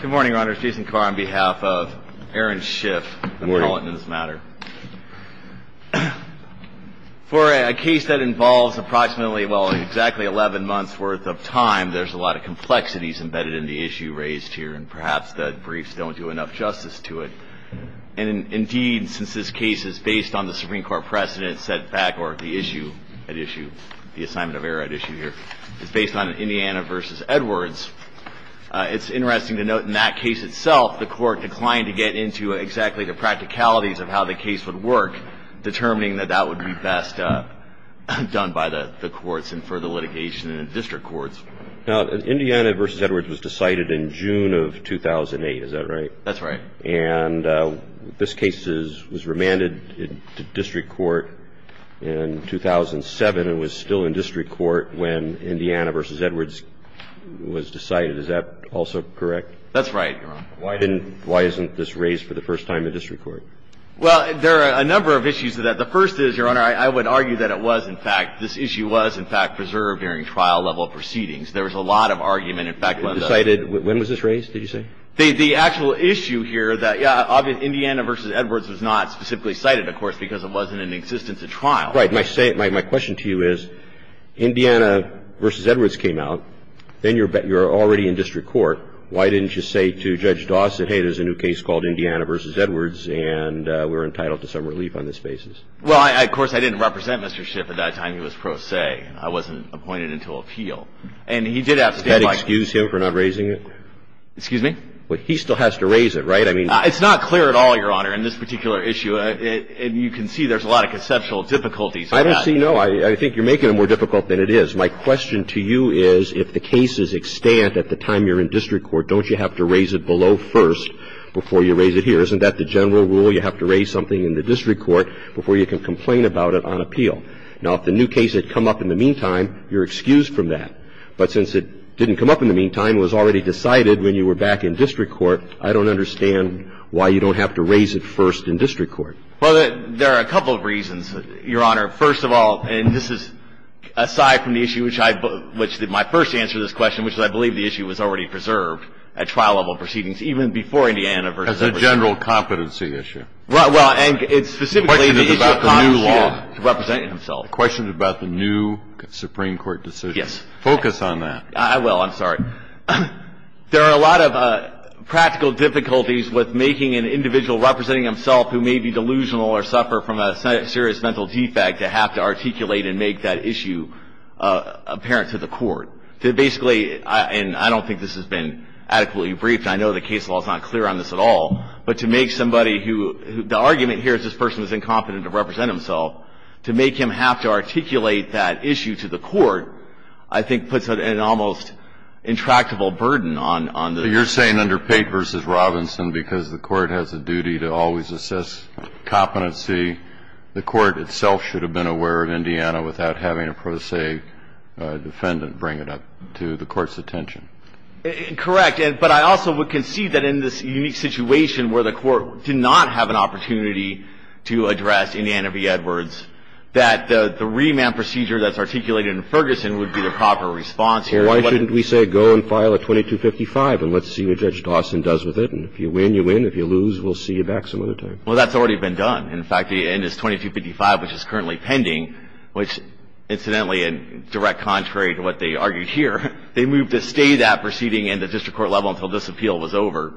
Good morning, Your Honor. Jason Carr on behalf of Aaron Schiff, I'm calling on this matter. For a case that involves approximately, well, exactly 11 months' worth of time, there's a lot of complexities embedded in the issue raised here, and perhaps the briefs don't do enough justice to it. And indeed, since this case is based on the Supreme Court precedent set back, or the issue at issue, the assignment of error at issue here, is based on an Indiana v. Edwards, it's interesting to note in that case itself, the court declined to get into exactly the practicalities of how the case would work, determining that that would be best done by the courts in further litigation in the district courts. Now, Indiana v. Edwards was decided in June of 2008, is that right? That's right. And this case was remanded to district court in 2007, and was still in district court when Indiana v. Edwards was decided. Is that also correct? That's right, Your Honor. Why didn't – why isn't this raised for the first time in district court? Well, there are a number of issues to that. The first is, Your Honor, I would argue that it was, in fact – this issue was, in fact, preserved during trial-level proceedings. There was a lot of argument, in fact, when the – Decided – when was this raised, did you say? The actual issue here that – yeah, Indiana v. Edwards was not specifically cited, of course, because it wasn't in existence at trial. Right. My question to you is, Indiana v. Edwards came out. Then you're already in district court. Why didn't you say to Judge Doss that, hey, there's a new case called Indiana v. Edwards, and we're entitled to some relief on this basis? Well, of course, I didn't represent Mr. Schiff at that time. He was pro se. I wasn't appointed until appeal. And he did have to take my – Does that excuse him for not raising it? Excuse me? Well, he still has to raise it, right? I mean – It's not clear at all, Your Honor, in this particular issue. And you can see there's a lot of conceptual difficulties. I don't see – no, I think you're making it more difficult than it is. My question to you is, if the case is extant at the time you're in district court, don't you have to raise it below first before you raise it here? Isn't that the general rule? You have to raise something in the district court before you can complain about it on appeal. Now, if the new case had come up in the meantime, you're excused from that. But since it didn't come up in the meantime, it was already decided when you were back in district court, I don't understand why you don't have to raise it first in district court. Well, there are a couple of reasons, Your Honor. First of all, and this is aside from the issue which I – which my first answer to this question, which is I believe the issue was already preserved at trial-level proceedings even before Indiana v. That's a general competency issue. Well, and it's specifically the issue of competency to represent himself. The question is about the new Supreme Court decision. Yes. Focus on that. I will. I'm sorry. There are a lot of practical difficulties with making an individual representing himself who may be delusional or suffer from a serious mental defect to have to articulate and make that issue apparent to the court. To basically – and I don't think this has been adequately briefed. I know the case law is not clear on this at all. But to make somebody who – the argument here is this person is incompetent to represent himself. To make him have to articulate that issue to the court I think puts an almost intractable burden on the – You're saying under Pate v. Robinson, because the court has a duty to always assess competency, the court itself should have been aware of Indiana without having a pro se defendant bring it up to the court's attention. Correct. But I also would concede that in this unique situation where the court did not have an opportunity to address Indiana v. Edwards, that the remand procedure that's articulated in Ferguson would be the proper response here. Why shouldn't we say go and file a 2255 and let's see what Judge Dawson does with it? And if you win, you win. If you lose, we'll see you back some other time. Well, that's already been done. In fact, the end is 2255, which is currently pending, which incidentally, in direct contrary to what they argued here, they moved to stay that proceeding in the district court level until this appeal was over,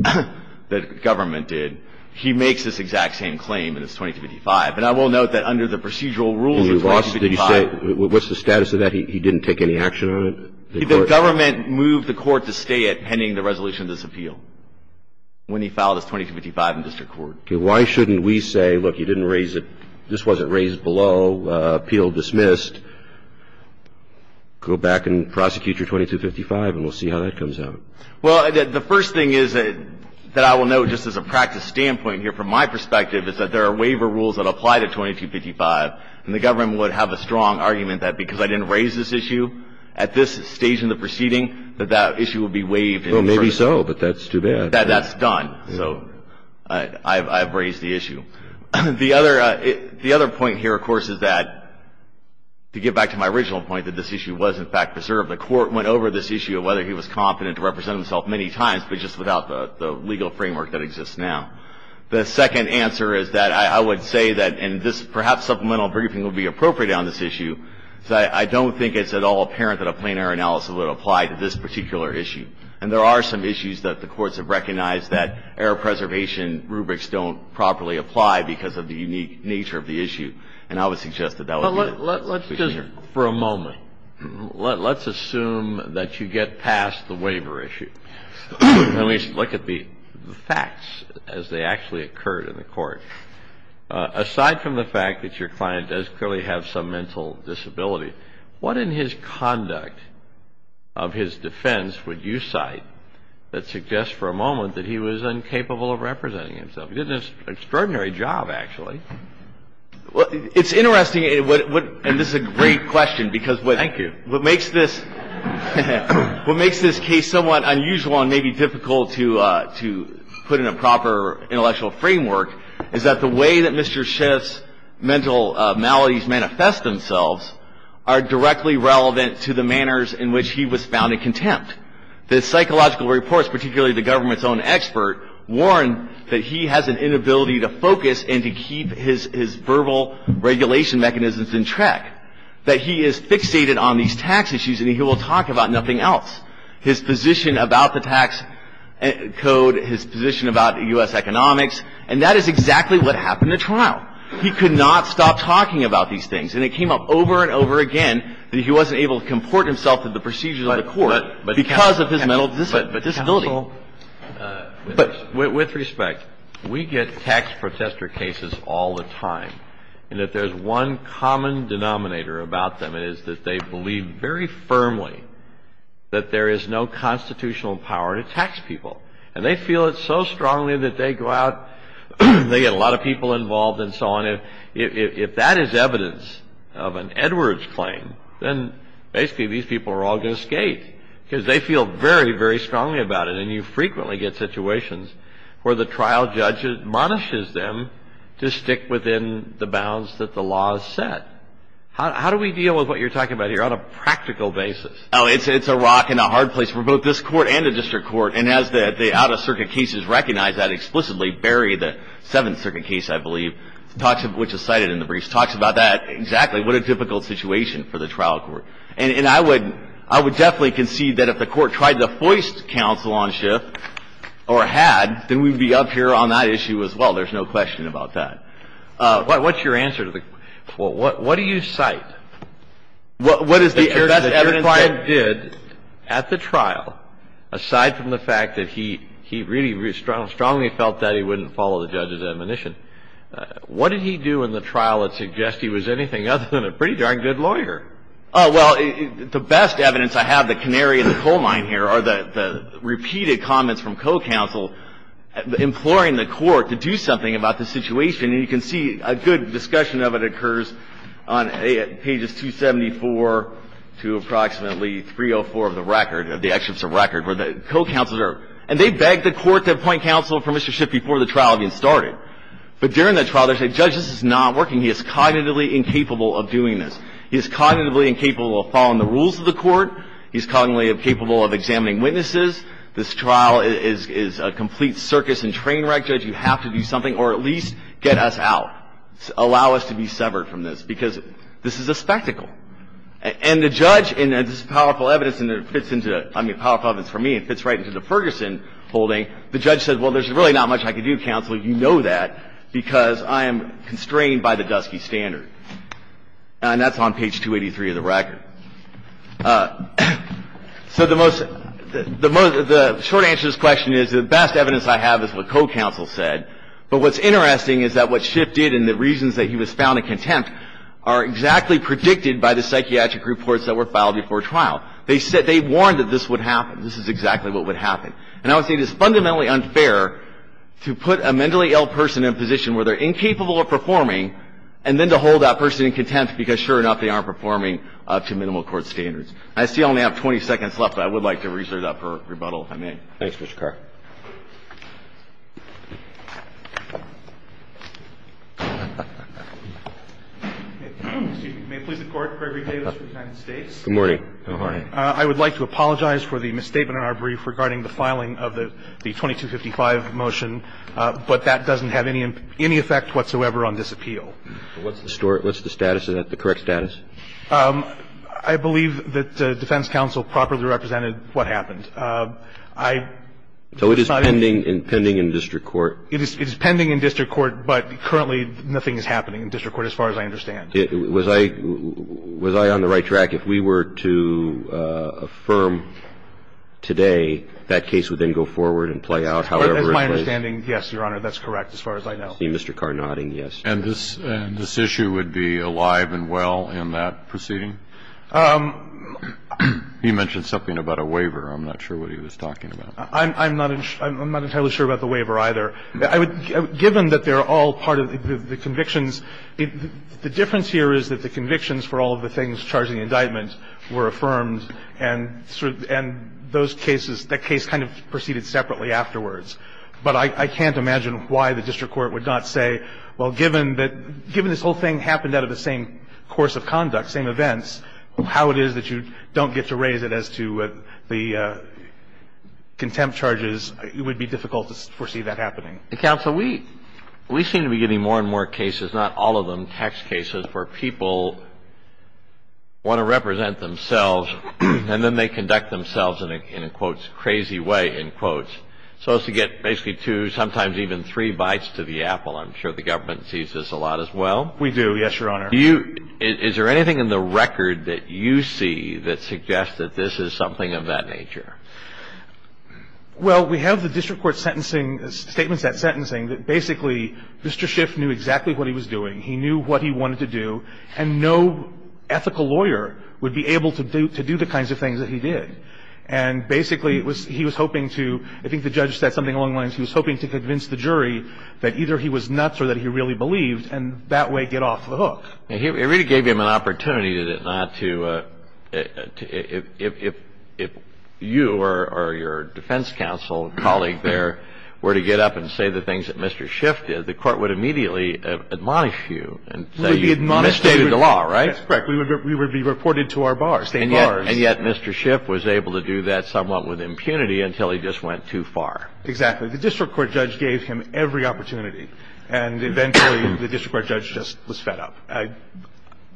the government did. He makes this exact same claim in his 2255. And I will note that under the procedural rules of 2255 – Did you say – what's the status of that? He didn't take any action on it? The government moved the court to stay it pending the resolution of this appeal when he filed his 2255 in district court. Okay. Why shouldn't we say, look, you didn't raise it, this wasn't raised below, appeal dismissed, go back and prosecute your 2255 and we'll see how that comes out? Well, the first thing is that I will note just as a practice standpoint here from my perspective is that there are waiver rules that apply to 2255, and the government would have a strong argument that because I didn't raise this issue at this stage in the proceeding, that that issue would be waived. Well, maybe so, but that's too bad. That's done. So I've raised the issue. The other point here, of course, is that, to get back to my original point, that this issue was in fact preserved. The court went over this issue of whether he was confident to represent himself many times, but just without the legal framework that exists now. The second answer is that I would say that, and this perhaps supplemental briefing would be appropriate on this issue, is that I don't think it's at all apparent that a plain error analysis would apply to this particular issue. And there are some issues that the courts have recognized that error preservation rubrics don't properly apply because of the unique nature of the issue, and I would suggest that that would be the situation here. And for a moment, let's assume that you get past the waiver issue, and we look at the facts as they actually occurred in the court. Aside from the fact that your client does clearly have some mental disability, what in his conduct of his defense would you cite that suggests for a moment that he was incapable of representing himself? He did an extraordinary job, actually. Well, it's interesting, and this is a great question. Thank you. Because what makes this case somewhat unusual and maybe difficult to put in a proper intellectual framework is that the way that Mr. Schiff's mental maladies manifest themselves are directly relevant to the manners in which he was found in contempt. The psychological reports, particularly the government's own expert, warn that he has an inability to focus and to keep his verbal regulation mechanisms in track, that he is fixated on these tax issues and he will talk about nothing else. His position about the tax code, his position about U.S. economics, and that is exactly what happened at trial. He could not stop talking about these things, and it came up over and over again that he wasn't able to comport himself to the procedures of the court because of his mental disability. But with respect, we get tax protester cases all the time, and if there's one common denominator about them, it is that they believe very firmly that there is no constitutional power to tax people, and they feel it so strongly that they go out, they get a lot of people involved and so on. If that is evidence of an Edwards claim, then basically these people are all going to skate because they feel very, very strongly about it, and you frequently get situations where the trial judge admonishes them to stick within the bounds that the law has set. How do we deal with what you're talking about here on a practical basis? It's a rock and a hard place for both this court and the district court, and as the out-of-circuit cases recognize that explicitly, Barry, the seventh circuit case, I believe, which is cited in the briefs, talks about that exactly, what a difficult situation for the trial court. And I would definitely concede that if the Court tried to foist counsel on Schiff or had, then we'd be up here on that issue as well. There's no question about that. What's your answer to the question? What do you cite? What is the best evidence that the judge did at the trial, aside from the fact that he really strongly felt that he wouldn't follow the judge's admonition, what did he do in the trial that suggests he was anything other than a pretty darn good lawyer? Oh, well, the best evidence I have, the canary in the coal mine here, are the repeated comments from co-counsel imploring the Court to do something about the situation. And you can see a good discussion of it occurs on pages 274 to approximately 304 of the record, of the excerpts of record, where the co-counsels are. And they begged the Court to appoint counsel for Mr. Schiff before the trial had even started. But during the trial, they said, Judge, this is not working. He is cognitively incapable of doing this. He is cognitively incapable of following the rules of the Court. He is cognitively incapable of examining witnesses. This trial is a complete circus and train wreck, Judge. You have to do something, or at least get us out. Allow us to be severed from this, because this is a spectacle. And the judge, and this is powerful evidence, and it fits into the – I mean, powerful evidence for me, it fits right into the Ferguson holding. The judge said, well, there's really not much I can do, counsel. You know that, because I am constrained by the Dusky Standard. And that's on page 283 of the record. So the most – the most – the short answer to this question is the best evidence I have is what co-counsel said. But what's interesting is that what Schiff did and the reasons that he was found in contempt are exactly predicted by the psychiatric reports that were filed before trial. They said – they warned that this would happen. This is exactly what would happen. And I would say it is fundamentally unfair to put a mentally ill person in a position where they're incapable of performing and then to hold that person in contempt because, sure enough, they aren't performing to minimal court standards. I see I only have 20 seconds left, but I would like to reserve that for rebuttal if I may. Roberts. Thanks, Mr. Carr. May it please the Court, Gregory Davis for the United States. Good morning. Good morning. I would like to apologize for the misstatement in our brief regarding the filing of the 2255 motion. We do not have any evidence in front of us to support the filing of the 2255 motion, but that doesn't have any effect whatsoever on this appeal. What's the status of that? The correct status? I believe that defense counsel properly represented what happened. I decided to – So it is pending in district court. It is pending in district court, but currently nothing is happening in district court as far as I understand. Was I on the right track? If we were to affirm today, that case would then go forward and play out however it plays? As my understanding, yes, Your Honor. That's correct as far as I know. I see Mr. Carr nodding yes. And this issue would be alive and well in that proceeding? You mentioned something about a waiver. I'm not sure what he was talking about. I'm not entirely sure about the waiver either. Given that they're all part of the convictions, the difference here is that the convictions for all of the things charged in the indictment were affirmed and those cases, that case kind of proceeded separately afterwards. But I can't imagine why the district court would not say, well, given this whole thing happened out of the same course of conduct, same events, how it is that you don't get to raise it as to the contempt charges. It would be difficult to foresee that happening. Counsel, we seem to be getting more and more cases, not all of them tax cases, where people want to represent themselves and then they conduct themselves in a quote, crazy way, in quotes. So as to get basically two, sometimes even three bites to the apple, I'm sure the government sees this a lot as well. We do, yes, Your Honor. Is there anything in the record that you see that suggests that this is something of that nature? Well, we have the district court sentencing, statements at sentencing, that basically Mr. Schiff knew exactly what he was doing, he knew what he wanted to do, and no ethical lawyer would be able to do the kinds of things that he did. And basically it was he was hoping to, I think the judge said something along the lines, he was hoping to convince the jury that either he was nuts or that he really believed, and that way get off the hook. It really gave him an opportunity, did it not, to, if you or your defense counsel colleague there were to get up and say the things that Mr. Schiff did, the court would immediately admonish you and say you misstated the law, right? That's correct. We would be reported to our bars, state bars. And yet Mr. Schiff was able to do that somewhat with impunity until he just went too far. Exactly. The district court judge gave him every opportunity, and eventually the district court judge just was fed up. I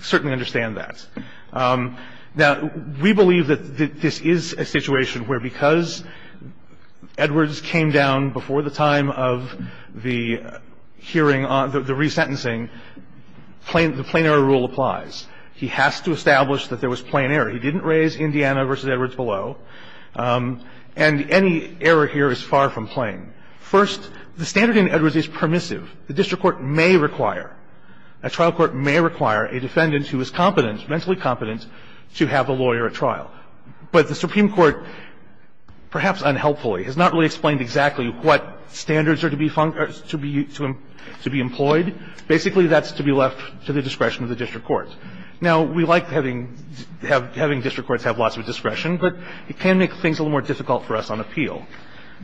certainly understand that. Now, we believe that this is a situation where because Edwards came down before the time of the hearing on the resentencing, the plain error rule applies. He has to establish that there was plain error. He didn't raise Indiana v. Edwards below. And any error here is far from plain. First, the standard in Edwards is permissive. The district court may require, a trial court may require a defendant who is competent, mentally competent, to have a lawyer at trial. But the Supreme Court, perhaps unhelpfully, has not really explained exactly what standards are to be employed. Basically, that's to be left to the discretion of the district courts. Now, we like having district courts have lots of discretion, but it can make things a little more difficult for us on appeal.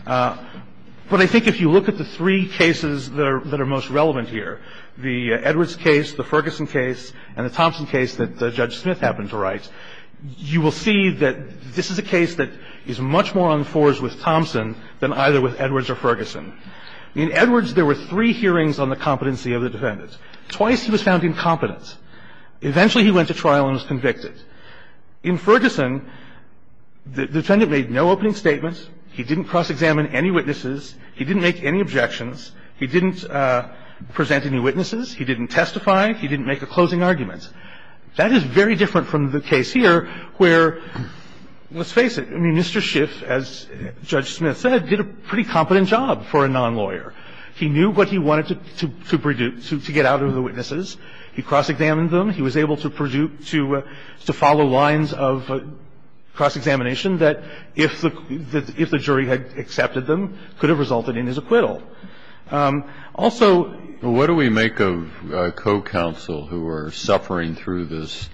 But I think if you look at the three cases that are most relevant here, the Edwards case, the Ferguson case, and the Thompson case that Judge Smith happened to write, you will see that this is a case that is much more on fours with Thompson than either with Edwards or Ferguson. In Edwards, there were three hearings on the competency of the defendant. Twice he was found incompetent. Eventually he went to trial and was convicted. In Ferguson, the defendant made no opening statements. He didn't cross-examine any witnesses. He didn't make any objections. He didn't present any witnesses. He didn't testify. He didn't make a closing argument. That is very different from the case here where, let's face it, I mean, Mr. Schiff, as Judge Smith said, did a pretty competent job for a nonlawyer. He knew what he wanted to get out of the witnesses. He cross-examined them. He was able to follow lines of cross-examination that, if the jury had accepted them, could have resulted in his acquittal. Also what do we make of co-counsel who are suffering through this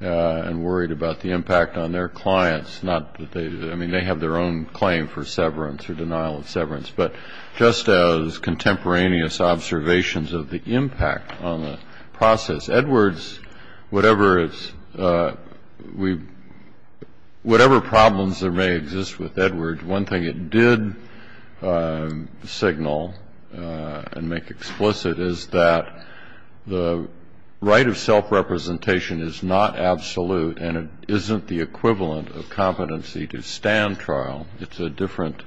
and worried about the impact on their clients, not that they, I mean, they have their own claim for severance or denial of severance, but just as contemporaneous observations of the impact on the process. Edwards, whatever problems there may exist with Edwards, one thing it did signal and make explicit is that the right of self-representation is not absolute and it isn't the equivalent of competency to stand trial. It's a different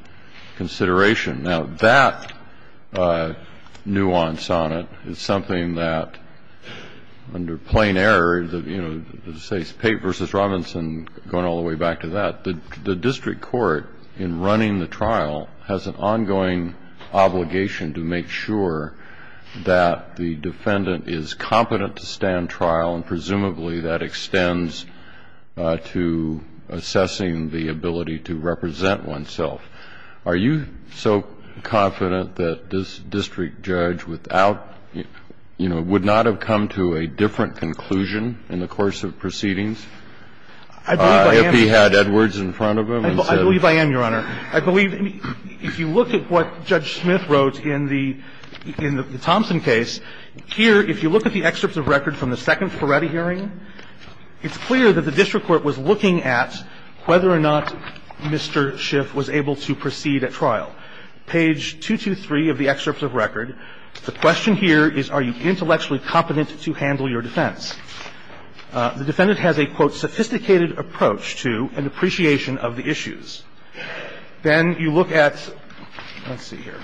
consideration. Now, that nuance on it is something that, under plain error, you know, say it's Pate v. Robinson going all the way back to that. The district court, in running the trial, has an ongoing obligation to make sure that the defendant is competent to stand trial, and presumably that extends to assessing the ability to represent oneself. Are you so confident that this district judge without, you know, would not have come to a different conclusion in the course of proceedings if he had Edwards in front of him and said? I believe I am, Your Honor. I believe if you look at what Judge Smith wrote in the Thompson case, here, if you look at the excerpts of record from the second Ferretti hearing, it's clear that the district court was looking at whether or not Mr. Schiff was able to proceed at trial. Page 223 of the excerpts of record, the question here is are you intellectually competent to handle your defense. The defendant has a, quote, sophisticated approach to an appreciation of the issues. Then you look at, let's see here,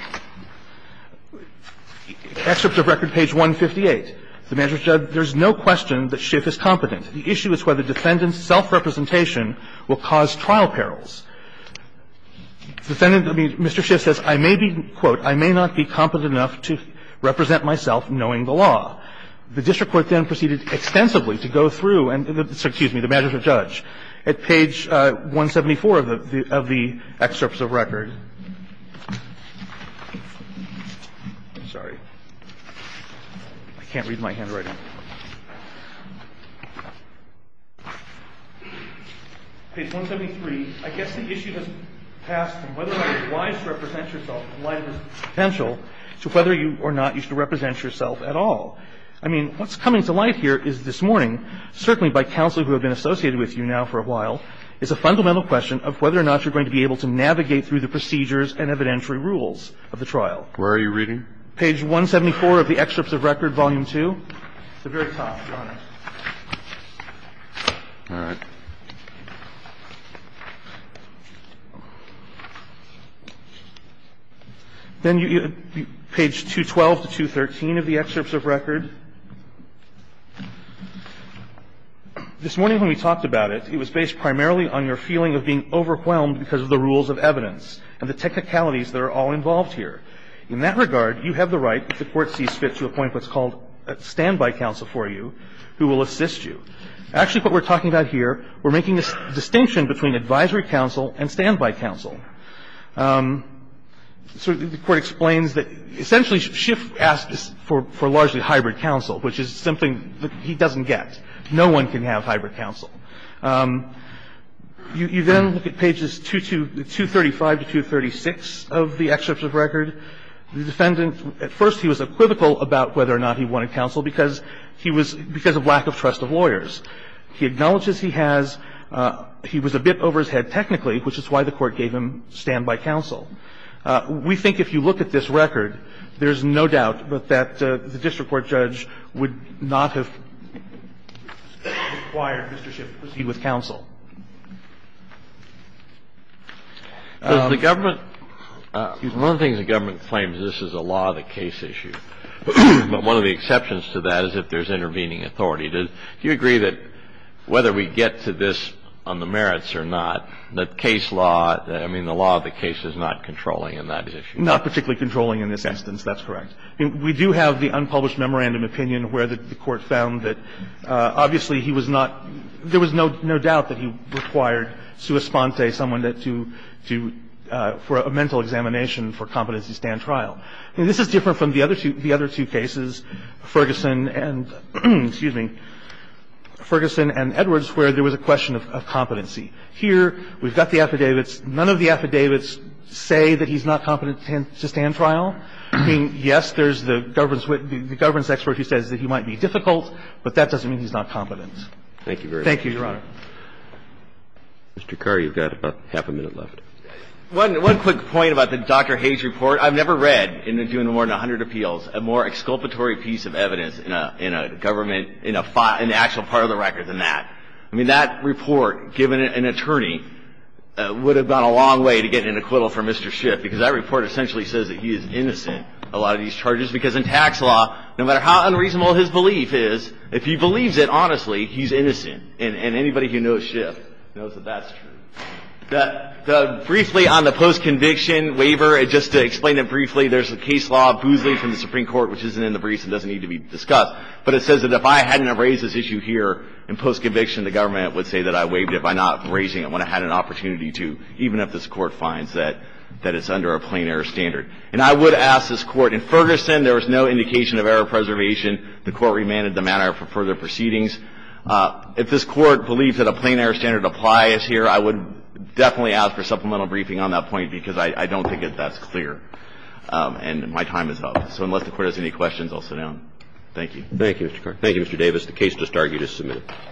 excerpts of record page 158. The manager said there's no question that Schiff is competent. The issue is whether defendant's self-representation will cause trial perils. The defendant, I mean, Mr. Schiff says, I may be, quote, I may not be competent enough to represent myself knowing the law. The district court then proceeded extensively to go through and the, excuse me, the manager judge at page 174 of the excerpts of record. I'm sorry. I can't read my handwriting. Page 173. I guess the issue has passed from whether or not you're wise to represent yourself in light of its potential to whether you or not you should represent yourself at all. I mean, what's coming to light here is this morning, certainly by counsel who have been associated with you now for a while, is a fundamental question of whether or not you're going to be able to navigate through the procedures and evidentiary rules of the trial. Where are you reading? Page 174 of the excerpts of record, volume 2. The very top, Your Honor. All right. Then you, page 212 to 213 of the excerpts of record. This morning when we talked about it, it was based primarily on your feeling of being overwhelmed because of the rules of evidence and the technicalities that are all involved here. In that regard, you have the right, if the Court sees fit to appoint what's called a standby counsel for you, who will assist you. Actually, what we're talking about here, we're making a distinction between advisory counsel and standby counsel. So the Court explains that essentially Schiff asked for largely hybrid counsel, which is something that he doesn't get. No one can have hybrid counsel. You then look at pages 235 to 236 of the excerpts of record. The defendant, at first he was equivocal about whether or not he wanted counsel because he was – because of lack of trust of lawyers. He acknowledges he has – he was a bit over his head technically, which is why the Court gave him standby counsel. We think if you look at this record, there's no doubt that the district court judge would not have required Mr. Schiff to proceed with counsel. The government – one of the things the government claims, this is a law of the case issue. But one of the exceptions to that is if there's intervening authority. Do you agree that whether we get to this on the merits or not, the case law – I mean, the law of the case is not controlling in that issue? Not particularly controlling in this instance. That's correct. I mean, we do have the unpublished memorandum opinion where the Court found that obviously he was not – there was no doubt that he required sua sponte, someone that to – for a mental examination for competency to stand trial. I mean, this is different from the other two cases, Ferguson and – excuse me – Ferguson and Edwards, where there was a question of competency. Here we've got the affidavits. None of the affidavits say that he's not competent to stand trial. I mean, yes, there's the government's – the government's expert who says that he might be difficult, but that doesn't mean he's not competent. Thank you, Your Honor. Mr. Carr, you've got about half a minute left. One quick point about the Dr. Hayes report. I've never read, in doing more than 100 appeals, a more exculpatory piece of evidence in a government – in an actual part of the record than that. I mean, that report, given an attorney, would have gone a long way to get an acquittal from Mr. Schiff, because that report essentially says that he is innocent, a lot of these charges, because in tax law, no matter how unreasonable his belief is, if he believes it honestly, he's innocent. And anybody who knows Schiff knows that that's true. The – briefly on the post-conviction waiver, just to explain it briefly, there's a case law, Boozley, from the Supreme Court, which isn't in the briefs. It doesn't need to be discussed. But it says that if I hadn't have raised this issue here in post-conviction, the government would say that I waived it by not raising it when I had an opportunity to, even if this Court finds that it's under a plain-error standard. And I would ask this Court – in Ferguson, there was no indication of error preservation. The Court remanded the matter for further proceedings. If this Court believes that a plain-error standard applies here, I would definitely ask for supplemental briefing on that point, because I don't think that that's clear. And my time is up. So unless the Court has any questions, I'll sit down. Thank you. Thank you, Mr. Carvin. Thank you, Mr. Davis. The case just argued is submitted.